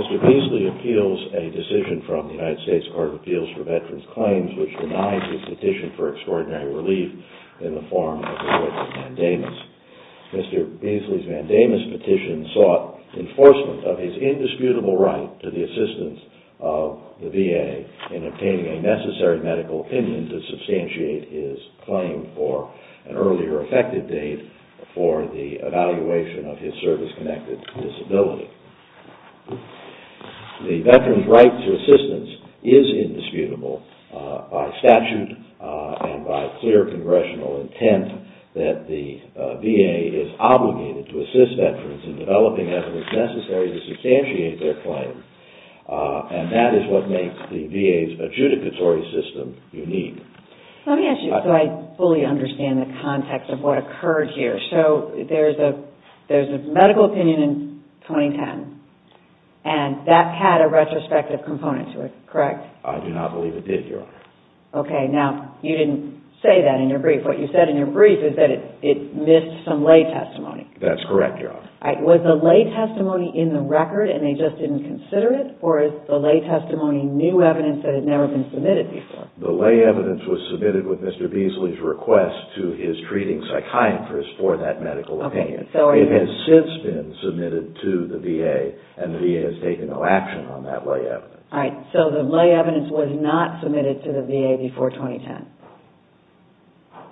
Mr. Beasley appeals a decision from the U.S. Court of Appeals for Veterans' Claims which denies his petition for extraordinary relief in the form of a written mandamus. Mr. Beasley's mandamus petition sought enforcement of his indisputable right to the assistance of the VA in obtaining a necessary medical opinion to substantiate his claim for an earlier effective date for the evaluation of his service-connected disability. The veteran's right to assistance is indisputable by statute and by clear congressional intent that the VA is obligated to assist veterans in developing evidence necessary to substantiate their claim and that is what makes the VA's adjudicatory system unique. Let me ask you so I fully understand the context of what occurred here. So there's a medical opinion in 2010 and that had a retrospective component to it, correct? I do not believe it did, Your Honor. Okay, now you didn't say that in your brief. What you said in your brief is that it missed some lay testimony. That's correct, Your Honor. Was the lay testimony in the record and they just didn't consider it or is the lay testimony new evidence that had never been submitted before? The lay evidence was submitted with Mr. Beasley's request to his treating psychiatrist for that medical opinion. It has since been submitted to the VA and the VA has taken no action on that lay evidence. All right, so the lay evidence was not submitted to the VA before 2010?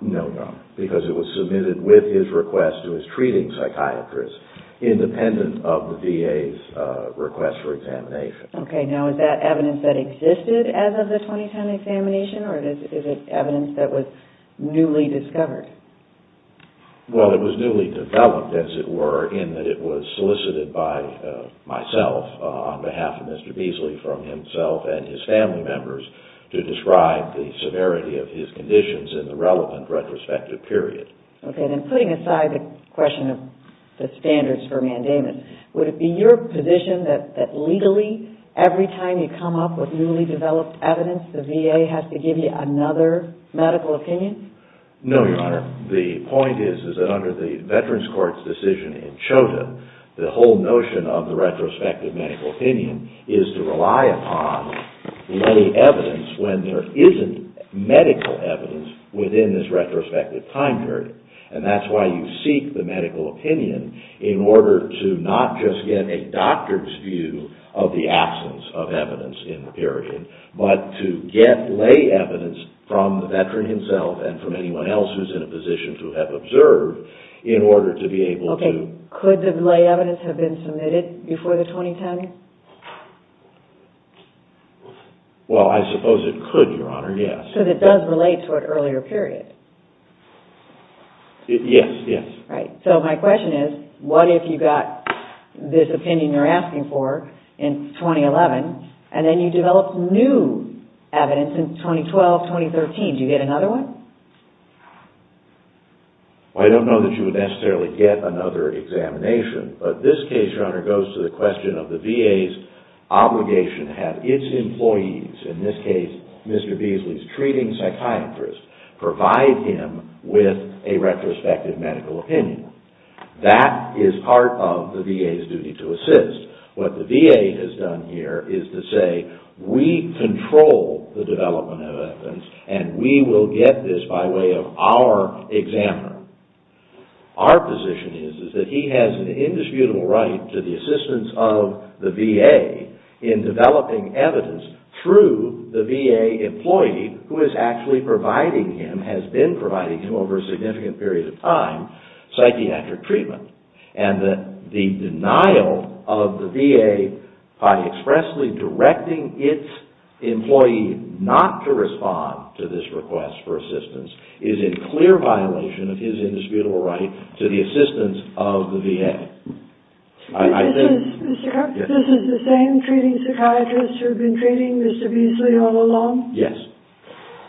No, Your Honor, because it was submitted with his request to his treating psychiatrist independent of the VA's request for examination. Okay, now is that evidence that existed as of the 2010 examination or is it evidence that was newly discovered? Well, it was newly developed as it were in that it was solicited by myself on behalf of Mr. Beasley from himself and his family members to describe the severity of his conditions in the relevant retrospective period. Okay, then putting aside the question of the standards for mandamus, would it be your position that legally every time you come up with newly developed evidence, the VA has to give you another medical opinion? No, Your Honor. The point is that under the Veterans Court's decision in CHOTA, the whole notion of the retrospective medical opinion is to rely upon lay evidence when there isn't medical evidence within this retrospective time period. And that's why you seek the medical opinion in order to not just get a doctor's view of the absence of evidence in the period, but to get lay evidence from the veteran himself and from anyone else who's in a position to have observed in order to be able to... Okay, could the lay evidence have been submitted before the 2010? Well, I suppose it could, Your Honor, yes. Because it does relate to an earlier period. Yes, yes. Right. So my question is, what if you got this opinion you're asking for in 2011, and then you developed new evidence in 2012, 2013, do you get another one? Well, I don't know that you would necessarily get another examination, but this case, Your Honor, goes to the question of the VA's obligation to have its employees, in this case, Mr. Beasley's treating psychiatrist, provide him with a retrospective medical opinion. That is part of the VA's duty to assist. What the VA has done here is to say, we control the development of evidence, and we will get this by way of our examiner. Our position is that he has an indisputable right to the assistance of the VA in developing evidence through the VA employee who is actually providing him, has been providing him over a significant period of time, psychiatric treatment. And that the denial of the VA by expressly directing its employee not to respond to this request for assistance is in clear violation of his indisputable right to the assistance of the VA. This is the same treating psychiatrist who had been treating Mr. Beasley all along? Yes.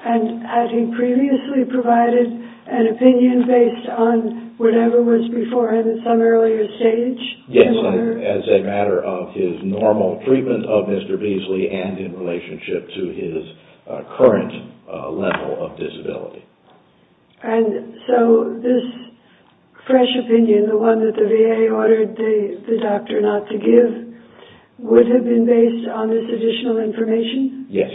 And had he previously provided an opinion based on whatever was before him at some earlier stage? Yes, as a matter of his normal treatment of Mr. Beasley and in relationship to his current level of disability. And so, this fresh opinion, the one that the VA ordered the doctor not to give, would have been based on this additional information? Yes.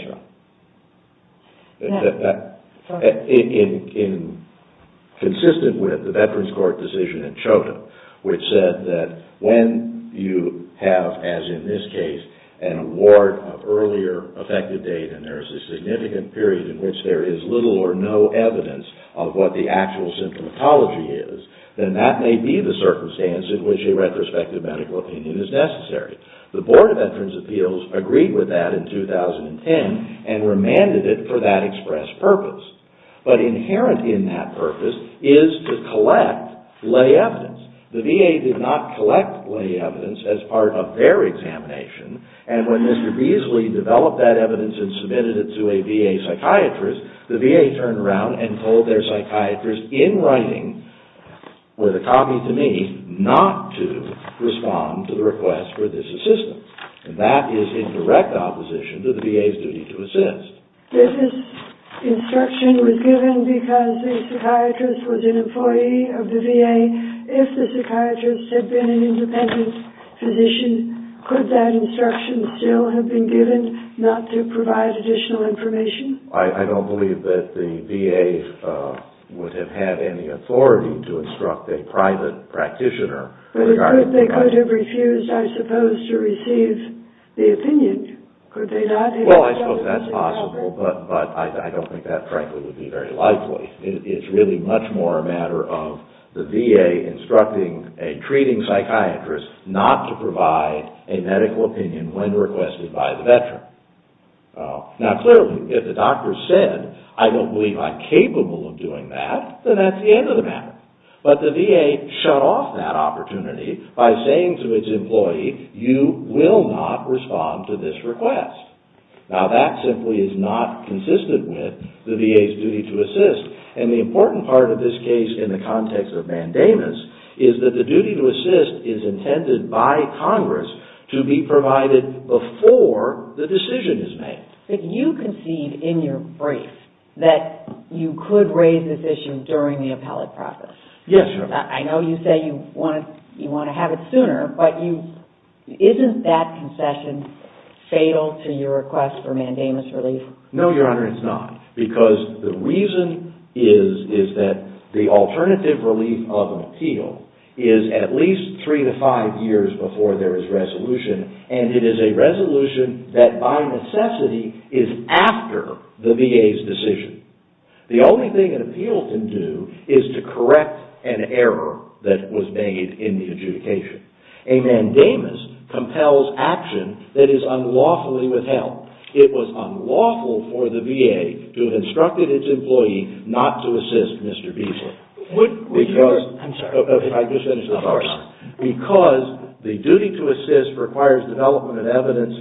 Consistent with the Veterans Court decision in CHODA, which said that when you have, as in this case, an award of earlier effective date and there is a significant period in which there is little or no evidence of what the actual symptomatology is, then that may be the circumstance in which a retrospective medical opinion is necessary. The Board of Veterans Appeals agreed with that in 2010 and remanded it for that express purpose. But inherent in that purpose is to collect lay evidence. The VA did not collect lay evidence as part of their examination. And when Mr. Beasley developed that evidence and submitted it to a VA psychiatrist, the VA turned around and told their psychiatrist in writing, with a copy to me, not to respond to the request for this assistance. And that is in direct opposition to the VA's duty to assist. If this instruction was given because the psychiatrist was an employee of the VA, if the psychiatrist had been an independent physician, could that instruction still have been given not to provide additional information? I don't believe that the VA would have had any authority to instruct a private practitioner. But if they could have refused, I suppose, to receive the opinion, could they not have? Well, I suppose that's possible, but I don't think that, frankly, would be very likely. It's really much more a matter of the VA instructing a treating psychiatrist not to provide a medical opinion when requested by the veteran. Now, clearly, if the doctor said, I don't believe I'm capable of doing that, then that's the end of the matter. But the VA shut off that opportunity by saying to its employee, you will not respond to this request. Now, that simply is not consistent with the VA's duty to assist. And the important part of this case in the context of mandamus is that the duty to assist is intended by Congress to be provided before the decision is made. But you concede in your brief that you could raise this issue during the appellate process. Yes, Your Honor. I know you say you want to have it sooner, but isn't that concession fatal to your request for mandamus relief? No, Your Honor, it's not. Because the reason is that the alternative relief of an appeal is at least three to five years before there is resolution. And it is a resolution that by necessity is after the VA's decision. The only thing an appeal can do is to correct an error that was made in the adjudication. A mandamus compels action that is unlawfully withheld. It was unlawful for the VA to have instructed its employee not to assist Mr. Beasley. Because the duty to assist requires development of evidence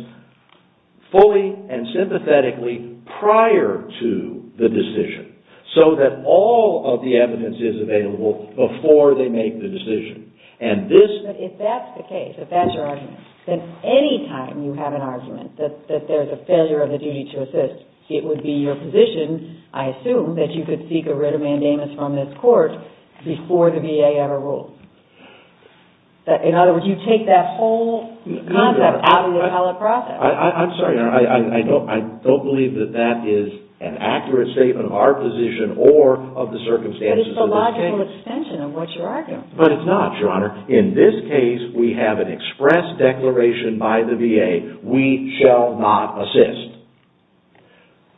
fully and sympathetically prior to the decision. So that all of the evidence is available before they make the decision. But if that's the case, if that's your argument, then any time you have an argument that there's a failure of the duty to assist, it would be your position, I assume, that you could seek a writ of mandamus from this court before the VA ever rules. In other words, you take that whole concept out of the appellate process. I'm sorry, Your Honor. I don't believe that that is an accurate statement of our position or of the circumstances. But it's a logical extension of what you're arguing. But it's not, Your Honor. In this case, we have an express declaration by the VA, we shall not assist.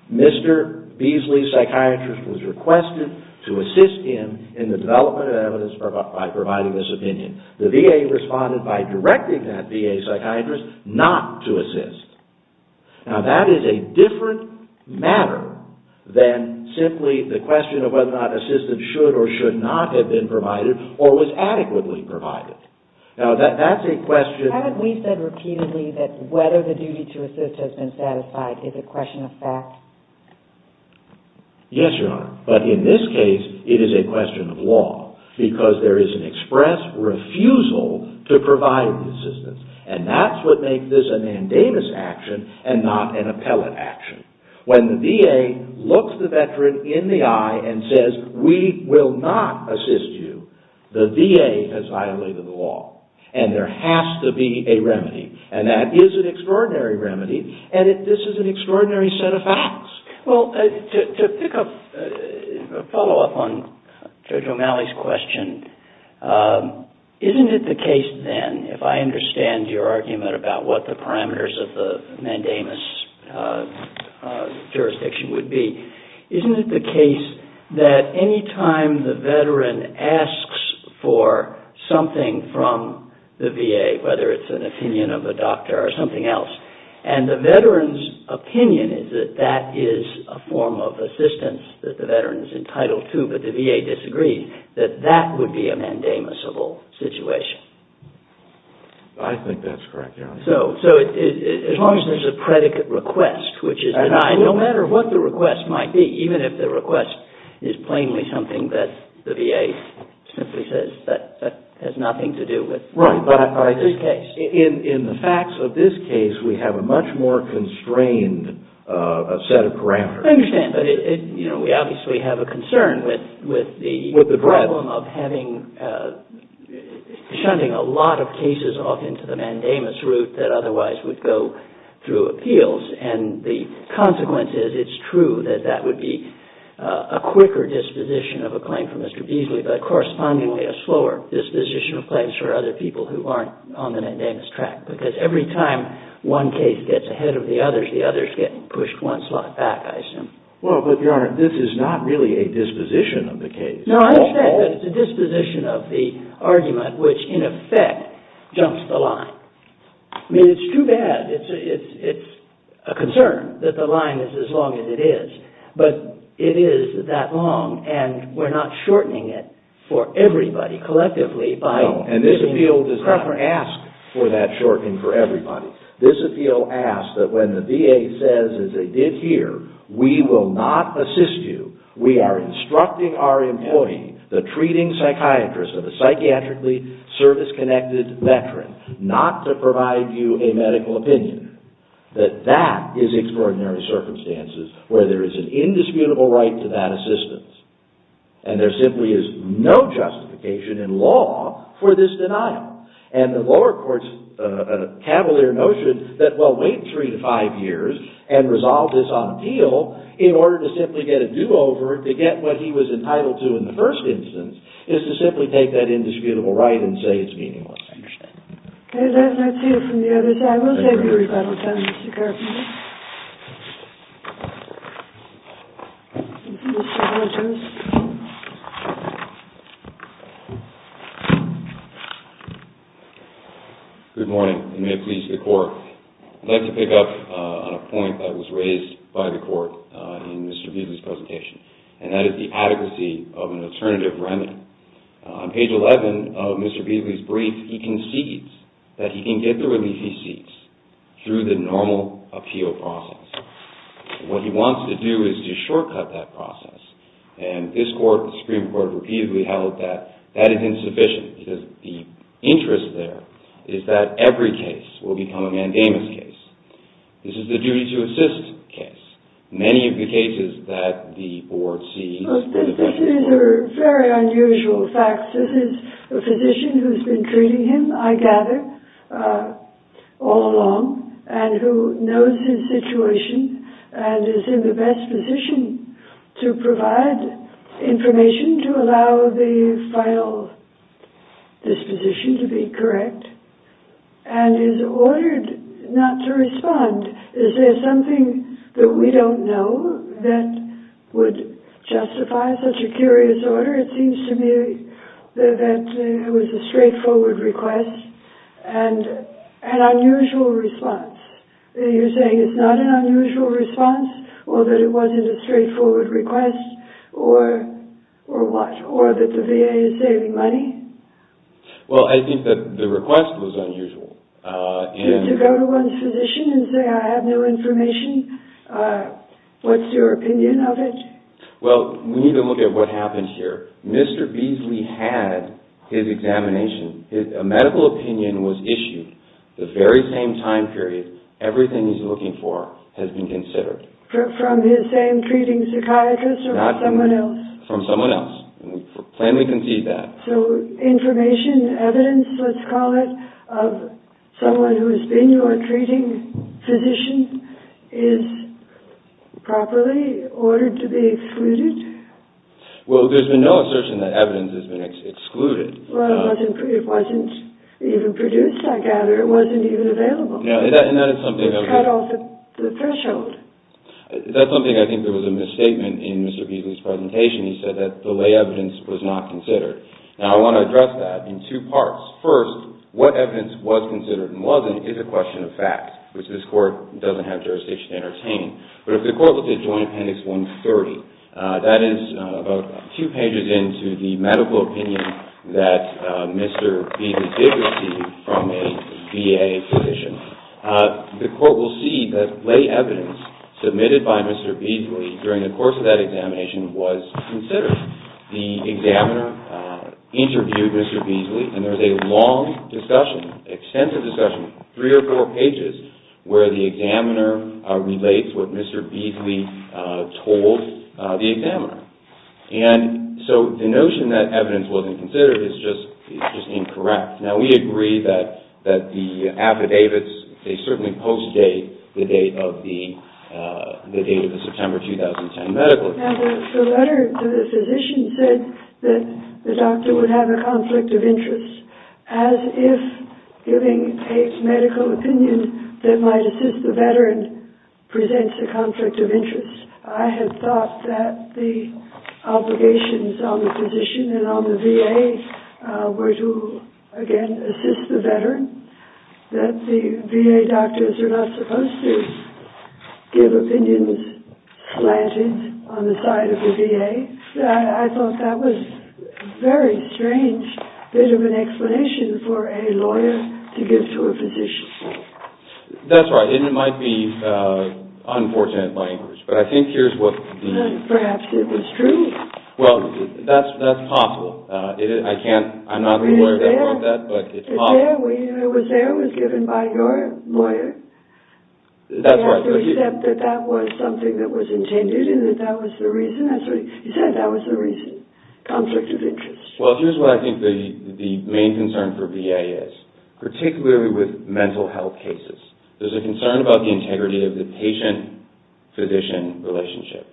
Mr. Beasley's psychiatrist was requested to assist him in the development of evidence by providing this opinion. The VA responded by directing that VA psychiatrist not to assist. Now, that is a different matter than simply the question of whether or not assistance should or should not have been provided or was adequately provided. Now, that's a question... Haven't we said repeatedly that whether the duty to assist has been satisfied is a question of fact? Yes, Your Honor. But in this case, it is a question of law because there is an express refusal to provide assistance. And that's what makes this a mandamus action and not an appellate action. When the VA looks the veteran in the eye and says, we will not assist you, the VA has violated the law. And there has to be a remedy. And that is an extraordinary remedy. And this is an extraordinary set of facts. Well, to pick up, follow up on Judge O'Malley's question, isn't it the case then, if I understand your argument about what the parameters of the mandamus jurisdiction would be, isn't it the case that any time the veteran asks for something from the VA, whether it's an opinion of a doctor or something else, and the veteran's opinion is that that is a form of assistance that the veteran is entitled to, but the VA disagrees, that that would be a mandamusable situation? I think that's correct, Your Honor. So, as long as there's a predicate request, which is denied, no matter what the request might be, even if the request is plainly something that the VA simply says that has nothing to do with this case. In the facts of this case, we have a much more constrained set of parameters. I understand, but we obviously have a concern with the problem of having, shunting a lot of cases off into the mandamus route that otherwise would go through appeals. And the consequence is, it's true that that would be a quicker disposition of a claim for Mr. Beasley, but correspondingly, a slower disposition of claims for other people who aren't on the mandamus track. Because every time one case gets ahead of the others, the others get pushed one slot back, I assume. Well, but Your Honor, this is not really a disposition of the case. No, I understand, but it's a disposition of the argument, which in effect, jumps the line. I mean, it's too bad. It's a concern that the line is as long as it is. But it is that long, and we're not shortening it for everybody, collectively. No, and this appeal does not ask for that shortening for everybody. This appeal asks that when the VA says, as they did here, we will not assist you. We are instructing our employee, the treating psychiatrist of a psychiatrically service-connected veteran, not to provide you a medical opinion. That that is extraordinary circumstances where there is an indisputable right to that assistance. And there simply is no justification in law for this denial. And the lower court's cavalier notion that, well, wait three to five years and resolve this on appeal, in order to simply get a do-over to get what he was entitled to in the first instance, is to simply take that indisputable right and say it's meaningless. I understand. Okay, let's hear from the other side. We'll take your rebuttal then, Mr. Carpenter. Good morning, and may it please the Court. I'd like to pick up on a point that was raised by the Court in Mr. Beasley's presentation, and that is the adequacy of an alternative remit. On page 11 of Mr. Beasley's brief, he concedes that he can get the relief he seeks through the normal appeal process. What he wants to do is to shortcut that process. And this Supreme Court repeatedly held that that is insufficient, because the interest there is that every case will become a mandamus case. This is the duty-to-assist case. This is a very unusual fact. This is a physician who's been treating him, I gather, all along, and who knows his situation and is in the best position to provide information to allow the final disposition to be correct, and is ordered not to respond. Is there something that we don't know that would justify such a curious order? It seems to me that it was a straightforward request and an unusual response. You're saying it's not an unusual response, or that it wasn't a straightforward request, or what? Or that the VA is saving money? Well, I think that the request was unusual. To go to one's physician and say, I have no information, what's your opinion of it? Well, we need to look at what happened here. Mr. Beasley had his examination. A medical opinion was issued the very same time period. Everything he's looking for has been considered. From his same treating psychiatrist or someone else? From someone else. We plainly concede that. So information, evidence, let's call it, of someone who has been your treating physician is properly ordered to be excluded? Well, there's been no assertion that evidence has been excluded. Well, it wasn't even produced, I gather. It wasn't even available. It cut off the threshold. That's something I think there was a misstatement in Mr. Beasley's presentation. He said that the lay evidence was not considered. Now, I want to address that in two parts. First, what evidence was considered and wasn't is a question of fact, which this Court doesn't have jurisdiction to entertain. But if the Court looks at Joint Appendix 130, that is about two pages into the medical opinion that Mr. Beasley did receive from a VA physician, the Court will see that lay evidence submitted by Mr. Beasley during the course of that examination was considered. The examiner interviewed Mr. Beasley, and there's a long discussion, extensive discussion, three or four pages, where the examiner relates what Mr. Beasley told the examiner. And so the notion that evidence wasn't considered is just incorrect. Now, we agree that the affidavits, they certainly post-date the date of the September 2010 medical exam. Now, the letter to the physician said that the doctor would have a conflict of interest, as if giving a medical opinion that might assist the veteran presents a conflict of interest. I had thought that the obligations on the physician and on the VA were to, again, assist the veteran, that the VA doctors are not supposed to give opinions slanted on the side of the VA. I thought that was a very strange bit of an explanation for a lawyer to give to a physician. That's right, and it might be unfortunate language, but I think here's what the... Perhaps it was true. Well, that's possible. I'm not a lawyer that knows that, but it's possible. It was there, it was given by your lawyer. That's right. They have to accept that that was something that was intended and that that was the reason. He said that was the reason, conflict of interest. Well, here's what I think the main concern for VA is, particularly with mental health cases. There's a concern about the integrity of the patient-physician relationship.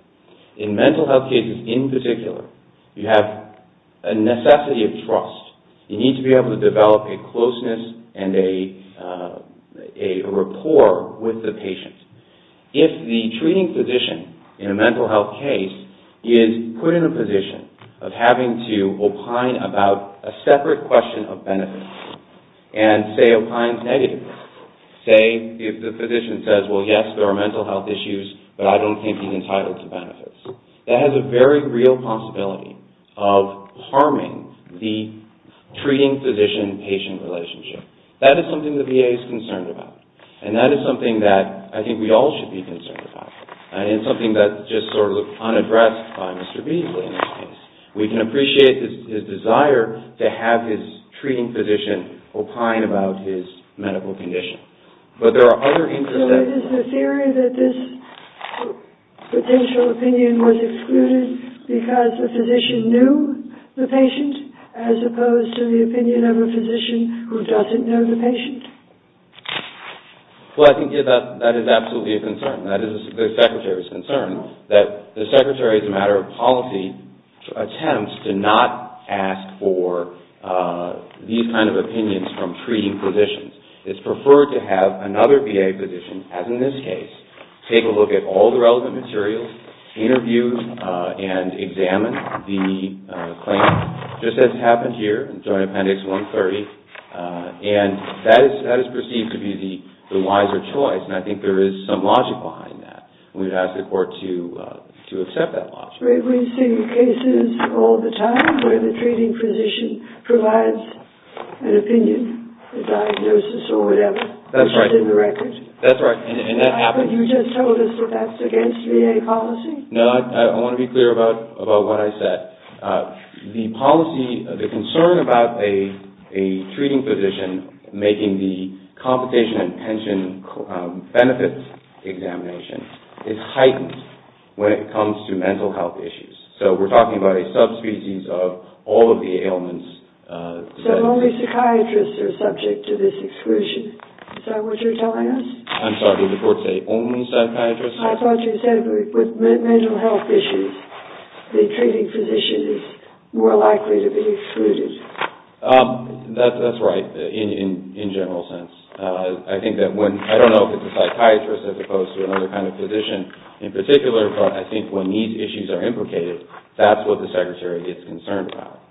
In mental health cases in particular, you have a necessity of trust. You need to be able to develop a closeness and a rapport with the patient. If the treating physician in a mental health case is put in a position of having to opine about a separate question of benefits and, say, opines negatively, say, if the physician says, well, yes, there are mental health issues, but I don't think he's entitled to benefits, that has a very real possibility of harming the treating-physician-patient relationship. That is something the VA is concerned about, and that is something that I think we all should be concerned about, and it's something that's just sort of unaddressed by Mr. Beasley in this case. We can appreciate his desire to have his treating physician opine about his medical condition, but there are other interests at play. So it is the theory that this potential opinion was excluded because the physician knew the patient, as opposed to the opinion of a physician who doesn't know the patient. Well, I think that is absolutely a concern. That is the Secretary's concern, that the Secretary, as a matter of policy, attempts to not ask for these kind of opinions from treating physicians. It's preferred to have another VA physician, as in this case, take a look at all the relevant materials, interview and examine the claim, just as happened here in Joint Appendix 130, and that is perceived to be the wiser choice, and I think there is some logic behind that. We would ask the Court to accept that logic. We see cases all the time where the treating physician provides an opinion, a diagnosis or whatever, which is in the record. That's right. You just told us that that's against VA policy? No, I want to be clear about what I said. The policy, the concern about a treating physician making the compensation and pension benefits examination is heightened when it comes to mental health issues. So we're talking about a subspecies of all of the ailments. So only psychiatrists are subject to this exclusion. Is that what you're telling us? I'm sorry, did the Court say only psychiatrists? I thought you said with mental health issues, the treating physician is more likely to be excluded. That's right, in a general sense. I think that when, I don't know if it's a psychiatrist as opposed to another kind of physician in particular, but I think when these issues are implicated, that's what the Secretary gets concerned about.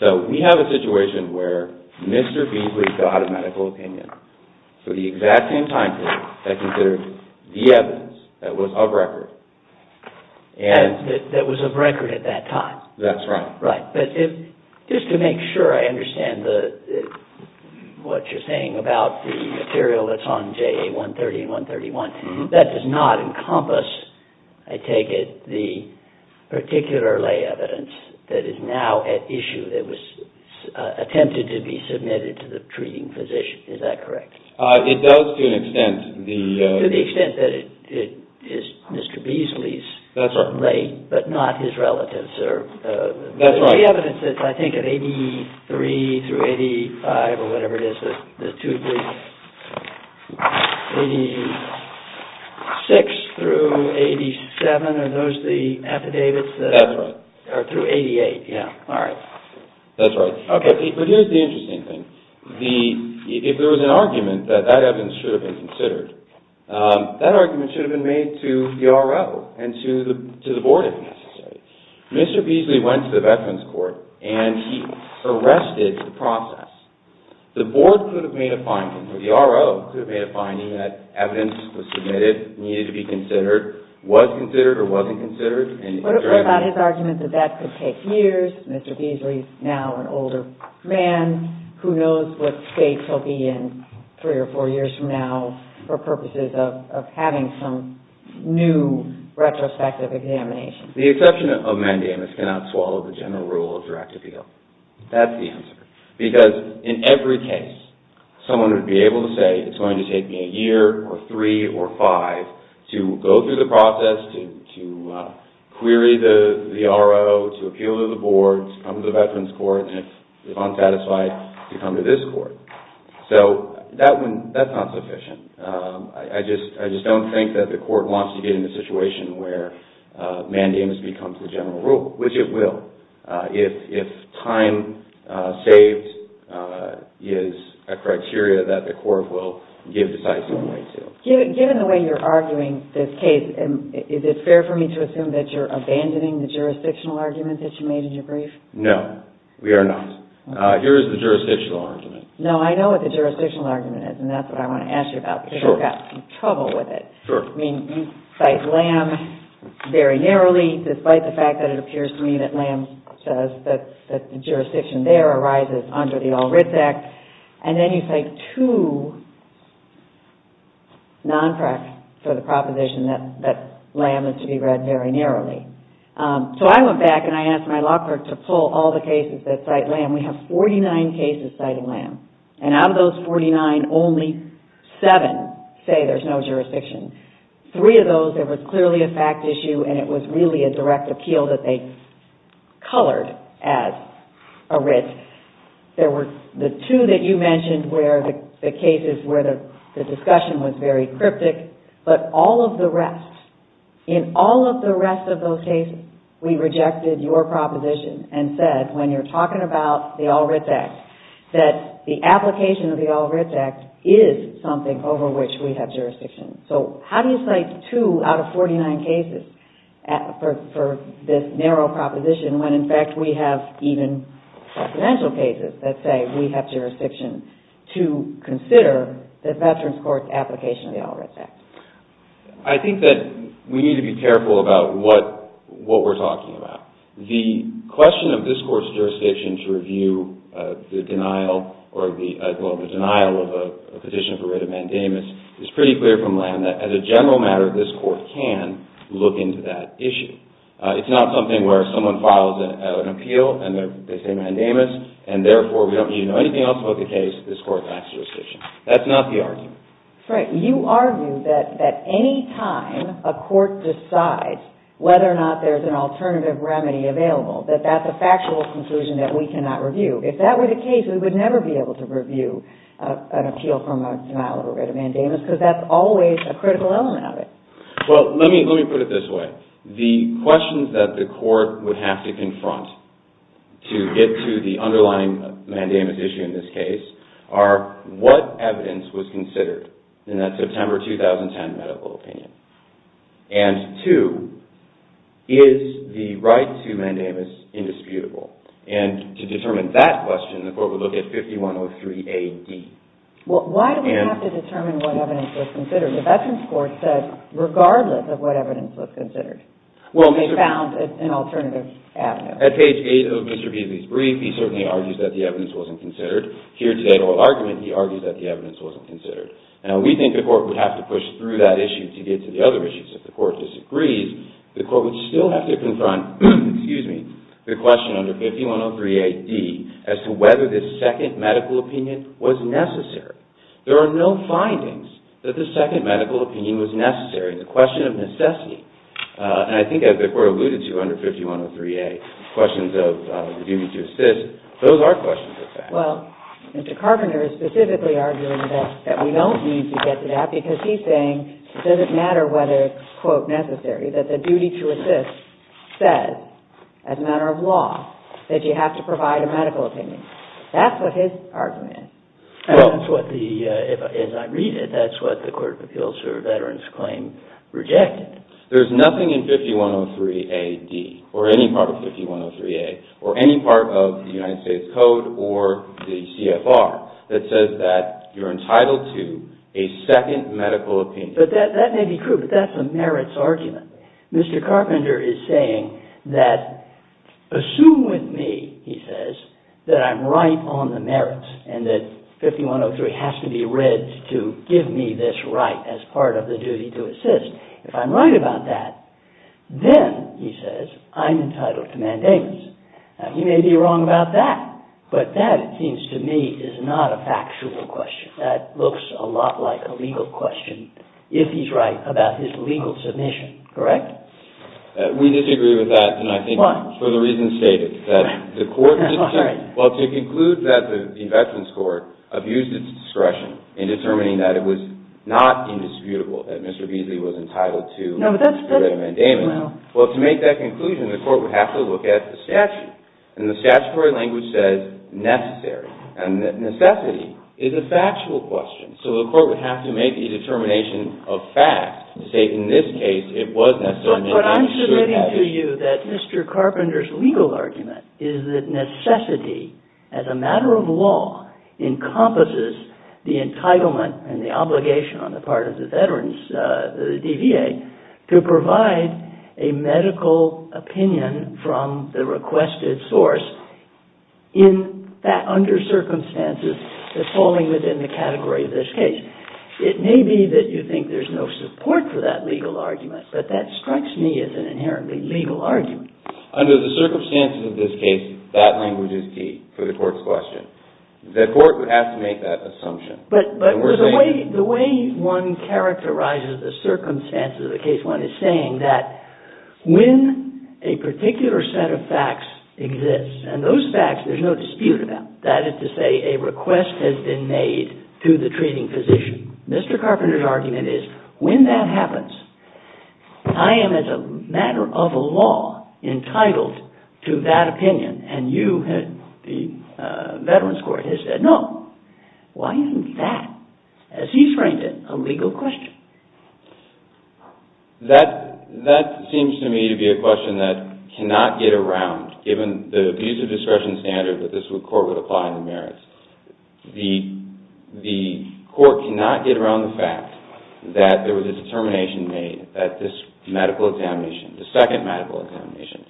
So we have a situation where Mr. B has got a medical opinion for the exact same time period that considered the evidence that was of record. That was of record at that time? That's right. Right, but just to make sure I understand what you're saying about the material that's on JA 130 and 131, that does not encompass, I take it, the particular lay evidence that is now at issue that was attempted to be submitted to the treating physician, is that correct? It does to an extent. To the extent that it is Mr. Beasley's lay, but not his relative's. The evidence is, I think, at 83 through 85 or whatever it is, 86 through 87, are those the affidavits? That's right. Or through 88, yeah, all right. That's right. Okay, but here's the interesting thing. If there was an argument that that evidence should have been considered, that argument should have been made to the RO and to the board if necessary. Mr. Beasley went to the Veterans Court and he arrested the process. The board could have made a finding, or the RO could have made a finding, that evidence was submitted, needed to be considered, was considered or wasn't considered. What about his argument that that could take years? Mr. Beasley is now an older man who knows what state he'll be in three or four years from now for purposes of having some new retrospective examination. The exception of mandamus cannot swallow the general rule of direct appeal. That's the answer. Because in every case, someone would be able to say, it's going to take me a year or three or five to go through the process, to query the RO, to appeal to the board, to come to the Veterans Court, and if unsatisfied, to come to this court. So that's not sufficient. I just don't think that the court wants to get into a situation where mandamus becomes the general rule, which it will, if time saved is a criteria that the court will give decisive weight to. Given the way you're arguing this case, is it fair for me to assume that you're abandoning the jurisdictional argument that you made in your brief? No, we are not. Here is the jurisdictional argument. No, I know what the jurisdictional argument is, and that's what I want to ask you about because I've got some trouble with it. Sure. I mean, you cite Lamb very narrowly, despite the fact that it appears to me that Lamb says that the jurisdiction there arises under the All Writs Act, and then you cite two non-parks for the proposition that Lamb is to be read very narrowly. So I went back and I asked my law clerk to pull all the cases that cite Lamb. And we have 49 cases cite Lamb. And out of those 49, only seven say there's no jurisdiction. Three of those, there was clearly a fact issue, and it was really a direct appeal that they colored as a writ. There were the two that you mentioned where the cases where the discussion was very cryptic, but all of the rest, in all of the rest of those cases, we rejected your proposition and said, when you're talking about the All Writs Act, that the application of the All Writs Act is something over which we have jurisdiction. So how do you cite two out of 49 cases for this narrow proposition when, in fact, we have even confidential cases that say we have jurisdiction to consider the Veterans Court's application of the All Writs Act? I think that we need to be careful about what we're talking about. The question of this Court's jurisdiction to review the denial or the denial of a petition for writ of mandamus is pretty clear from Lamb that, as a general matter, this Court can look into that issue. It's not something where someone files an appeal and they say mandamus, and therefore we don't need to know anything else about the case. This Court lacks jurisdiction. That's not the argument. Frank, you argue that any time a Court decides whether or not there's an alternative remedy available, that that's a factual conclusion that we cannot review. If that were the case, we would never be able to review an appeal from a denial of a writ of mandamus because that's always a critical element of it. Well, let me put it this way. The questions that the Court would have to confront to get to the underlying mandamus issue in this case are what evidence was considered in that September 2010 medical opinion? And two, is the right to mandamus indisputable? And to determine that question, the Court would look at 5103A.D. Well, why do we have to determine what evidence was considered? The Veterans Court said, regardless of what evidence was considered, they found an alternative avenue. At page 8 of Mr. Beebe's brief, he certainly argues that the evidence wasn't considered. Here today in oral argument, he argues that the evidence wasn't considered. Now, we think the Court would have to push through that issue to get to the other issues. If the Court disagrees, the Court would still have to confront the question under 5103A.D. as to whether this second medical opinion was necessary. There are no findings that the second medical opinion was necessary. It's a question of necessity. And I think as the Court alluded to under 5103A, questions of reviewing to assist, those are questions of fact. Well, Mr. Carpenter is specifically arguing that we don't need to get to that, because he's saying it doesn't matter whether it's, quote, necessary, that the duty to assist says, as a matter of law, that you have to provide a medical opinion. That's what his argument is. And that's what the, as I read it, that's what the Court of Appeals for Veterans Claim rejected. There's nothing in 5103A.D., or any part of 5103A, or any part of the United States Code or the CFR, that says that you're entitled to a second medical opinion. But that may be true, but that's a merits argument. Mr. Carpenter is saying that, assume with me, he says, that I'm right on the merits, and that 5103 has to be read to give me this right as part of the duty to assist. If I'm right about that, then, he says, I'm entitled to mandates. Now, he may be wrong about that, but that, it seems to me, is not a factual question. That looks a lot like a legal question, if he's right about his legal submission. Correct? We disagree with that, and I think for the reasons stated. Why? Well, to conclude that the Veterans Court abused its discretion in determining that it was not indisputable that Mr. Beasley was entitled to a mandate, well, to make that conclusion, the court would have to look at the statute. And the statutory language says necessary, and necessity is a factual question. So, the court would have to make a determination of fact to say, in this case, it was necessary. But I'm submitting to you that Mr. Carpenter's legal argument is that necessity, as a matter of law, encompasses the entitlement and the obligation on the part of the DVA to provide a medical opinion from the requested source under circumstances that's falling within the category of this case. It may be that you think there's no support for that legal argument, but that strikes me as an inherently legal argument. Under the circumstances of this case, that language is key for the court's question. The court would have to make that assumption. But the way one characterizes the circumstances of a case, one is saying that when a particular set of facts exists, and those facts there's no dispute about, that is to say, a request has been made to the treating physician, Mr. Carpenter's argument is, when that happens, I am, as a matter of law, entitled to that opinion. And you, the Veterans Court, has said no. Why isn't that, as he's framed it, a legal question? That seems to me to be a question that cannot get around, given the abuse of discretion standard that this court would apply in the merits. The court cannot get around the fact that there was a determination made that this medical examination, the second medical examination,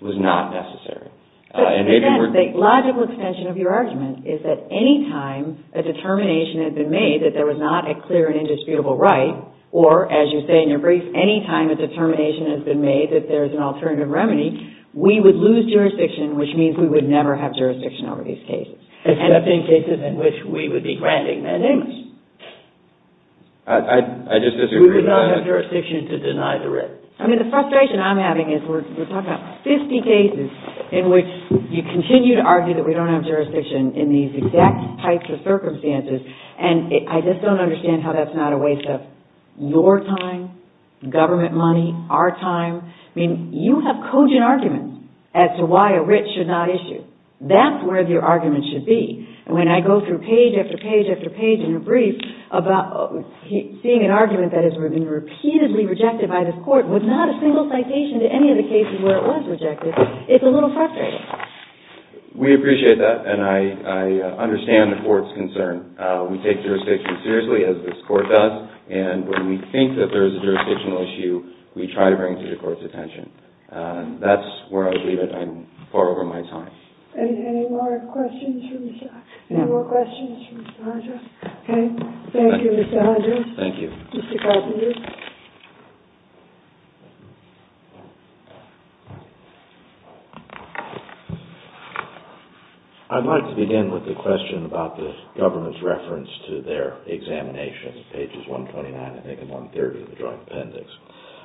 was not necessary. The logical extension of your argument is that any time a determination had been made that there was not a clear and indisputable right, or, as you say in your brief, any time a determination has been made that there is an alternative remedy, we would lose jurisdiction, which means we would never have jurisdiction over these cases. Except in cases in which we would be granting mandamus. I just disagree with that. We would not have jurisdiction to deny the writ. I mean, the frustration I'm having is we're talking about 50 cases in which you continue to argue that we don't have jurisdiction in these exact types of circumstances, and I just don't understand how that's not a waste of your time, government money, our time. I mean, you have cogent arguments as to why a writ should not issue. That's where your argument should be. And when I go through page after page after page in your brief about seeing an argument that has been repeatedly rejected by this court with not a single citation to any of the cases where it was rejected, it's a little frustrating. We appreciate that, and I understand the court's concern. We take jurisdiction seriously, as this court does, and when we think that there is a jurisdictional issue, we try to bring it to the court's attention. That's where I would leave it. I'm far over my time. Any more questions? Any more questions for Mr. Hunter? Okay. Thank you, Mr. Hunter. Thank you. Mr. Carpenter. I'd like to begin with a question about the government's reference to their examination, pages 129, I think, and 130 of the Joint Appendix.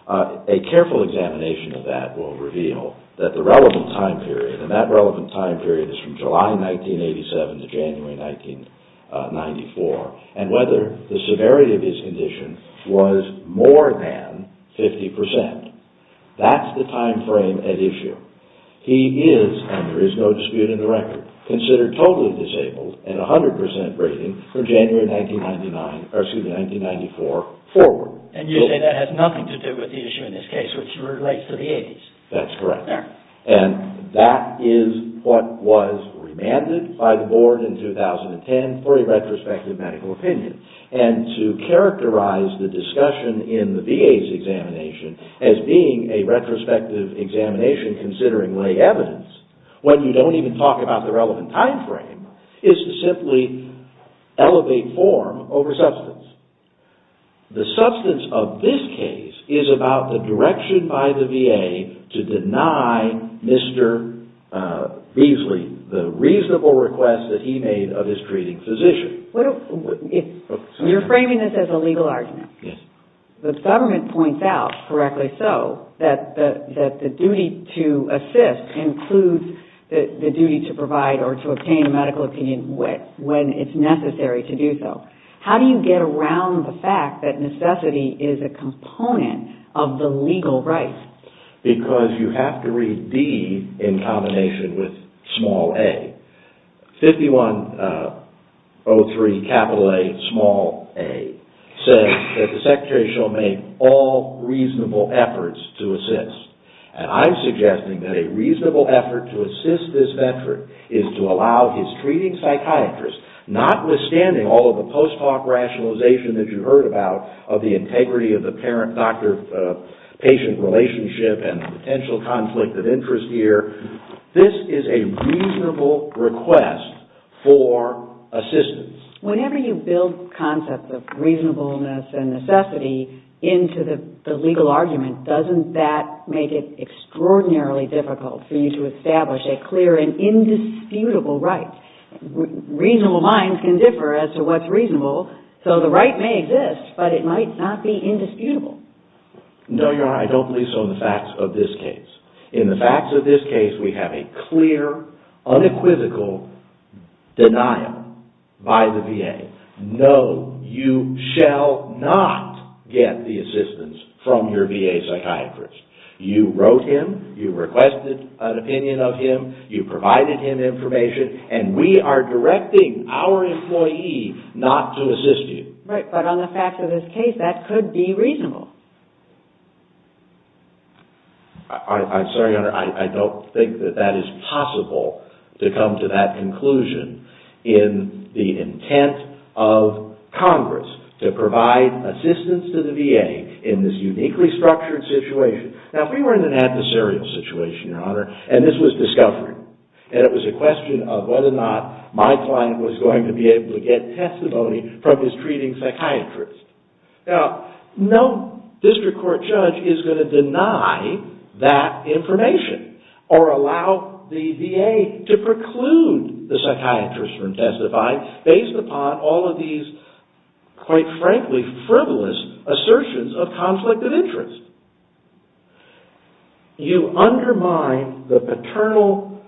A careful examination of that will reveal that the relevant time period, and that relevant time period is from July 1987 to January 1994, is more than 50 percent. That's the time frame at issue. He is, and there is no dispute in the record, considered totally disabled and 100 percent breathing from January 1994 forward. And you say that has nothing to do with the issue in this case, which relates to the 80s? That's correct. And that is what was remanded by the board in 2010 for a retrospective medical opinion. And to characterize the discussion in the VA's examination as being a retrospective examination considering lay evidence, when you don't even talk about the relevant time frame, is to simply elevate form over substance. The substance of this case is about the direction by the VA to deny Mr. Beasley the reasonable request that he made of his treating physician. You're framing this as a legal argument. Yes. The government points out, correctly so, that the duty to assist includes the duty to provide or to obtain a medical opinion when it's necessary to do so. How do you get around the fact that necessity is a component of the legal rights? Because you have to read D in combination with small a. 5103A says that the secretary shall make all reasonable efforts to assist. And I'm suggesting that a reasonable effort to assist this veteran is to allow his treating psychiatrist, notwithstanding all of the post hoc rationalization that you heard about, of the integrity of the patient relationship and potential conflict of interest here, this is a reasonable request for assistance. Whenever you build concepts of reasonableness and necessity into the legal argument, doesn't that make it extraordinarily difficult for you to establish a clear and indisputable right? Reasonable minds can differ as to what's reasonable. So the right may exist, but it might not be indisputable. No, Your Honor, I don't believe so in the facts of this case. In the facts of this case, we have a clear, unequivocal denial by the VA. No, you shall not get the assistance from your VA psychiatrist. You wrote him, you requested an opinion of him, you provided him information, and we are directing our employee not to assist you. Right, but on the facts of this case, that could be reasonable. I'm sorry, Your Honor, I don't think that that is possible to come to that conclusion in the intent of Congress to provide assistance to the VA in this uniquely structured situation. Now, we were in an adversarial situation, Your Honor, and this was discovery. And it was a question of whether or not my client was going to be able to get testimony from his treating psychiatrist. Now, no district court judge is going to deny that information or allow the VA to preclude the psychiatrist from testifying based upon all of these, quite frankly, frivolous assertions of conflict of interest. You undermine the paternal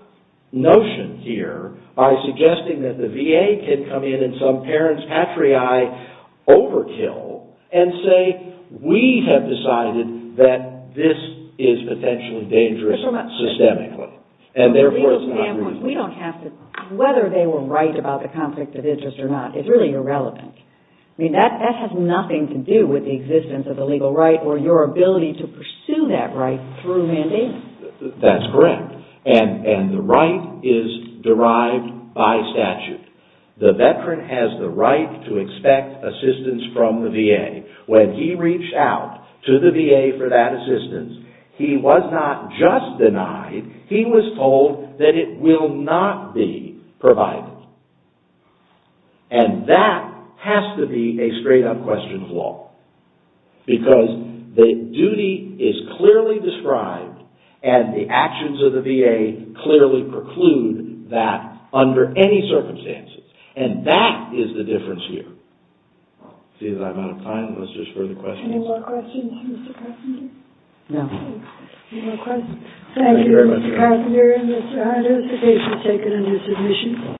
notion here by suggesting that the VA can come in and some parent's patriae overkill and say, we have decided that this is potentially dangerous systemically. And therefore, it's not reasonable. We don't have to, whether they were right about the conflict of interest or not, it's really irrelevant. I mean, that has nothing to do with the existence of a legal right or your ability to pursue that right through mandate. That's correct. And the right is derived by statute. The veteran has the right to expect assistance from the VA. When he reached out to the VA for that assistance, he was not just denied, he was told that it will not be provided. And that has to be a straight up question of law. Because the duty is clearly described and the actions of the VA clearly preclude that under any circumstances. And that is the difference here. I see that I'm out of time. Unless there's further questions? Any more questions for Mr. Krasen? Any more questions? Thank you very much. Thank you, Mr. Krasen. Mr. Hodes, the case has taken a new submission.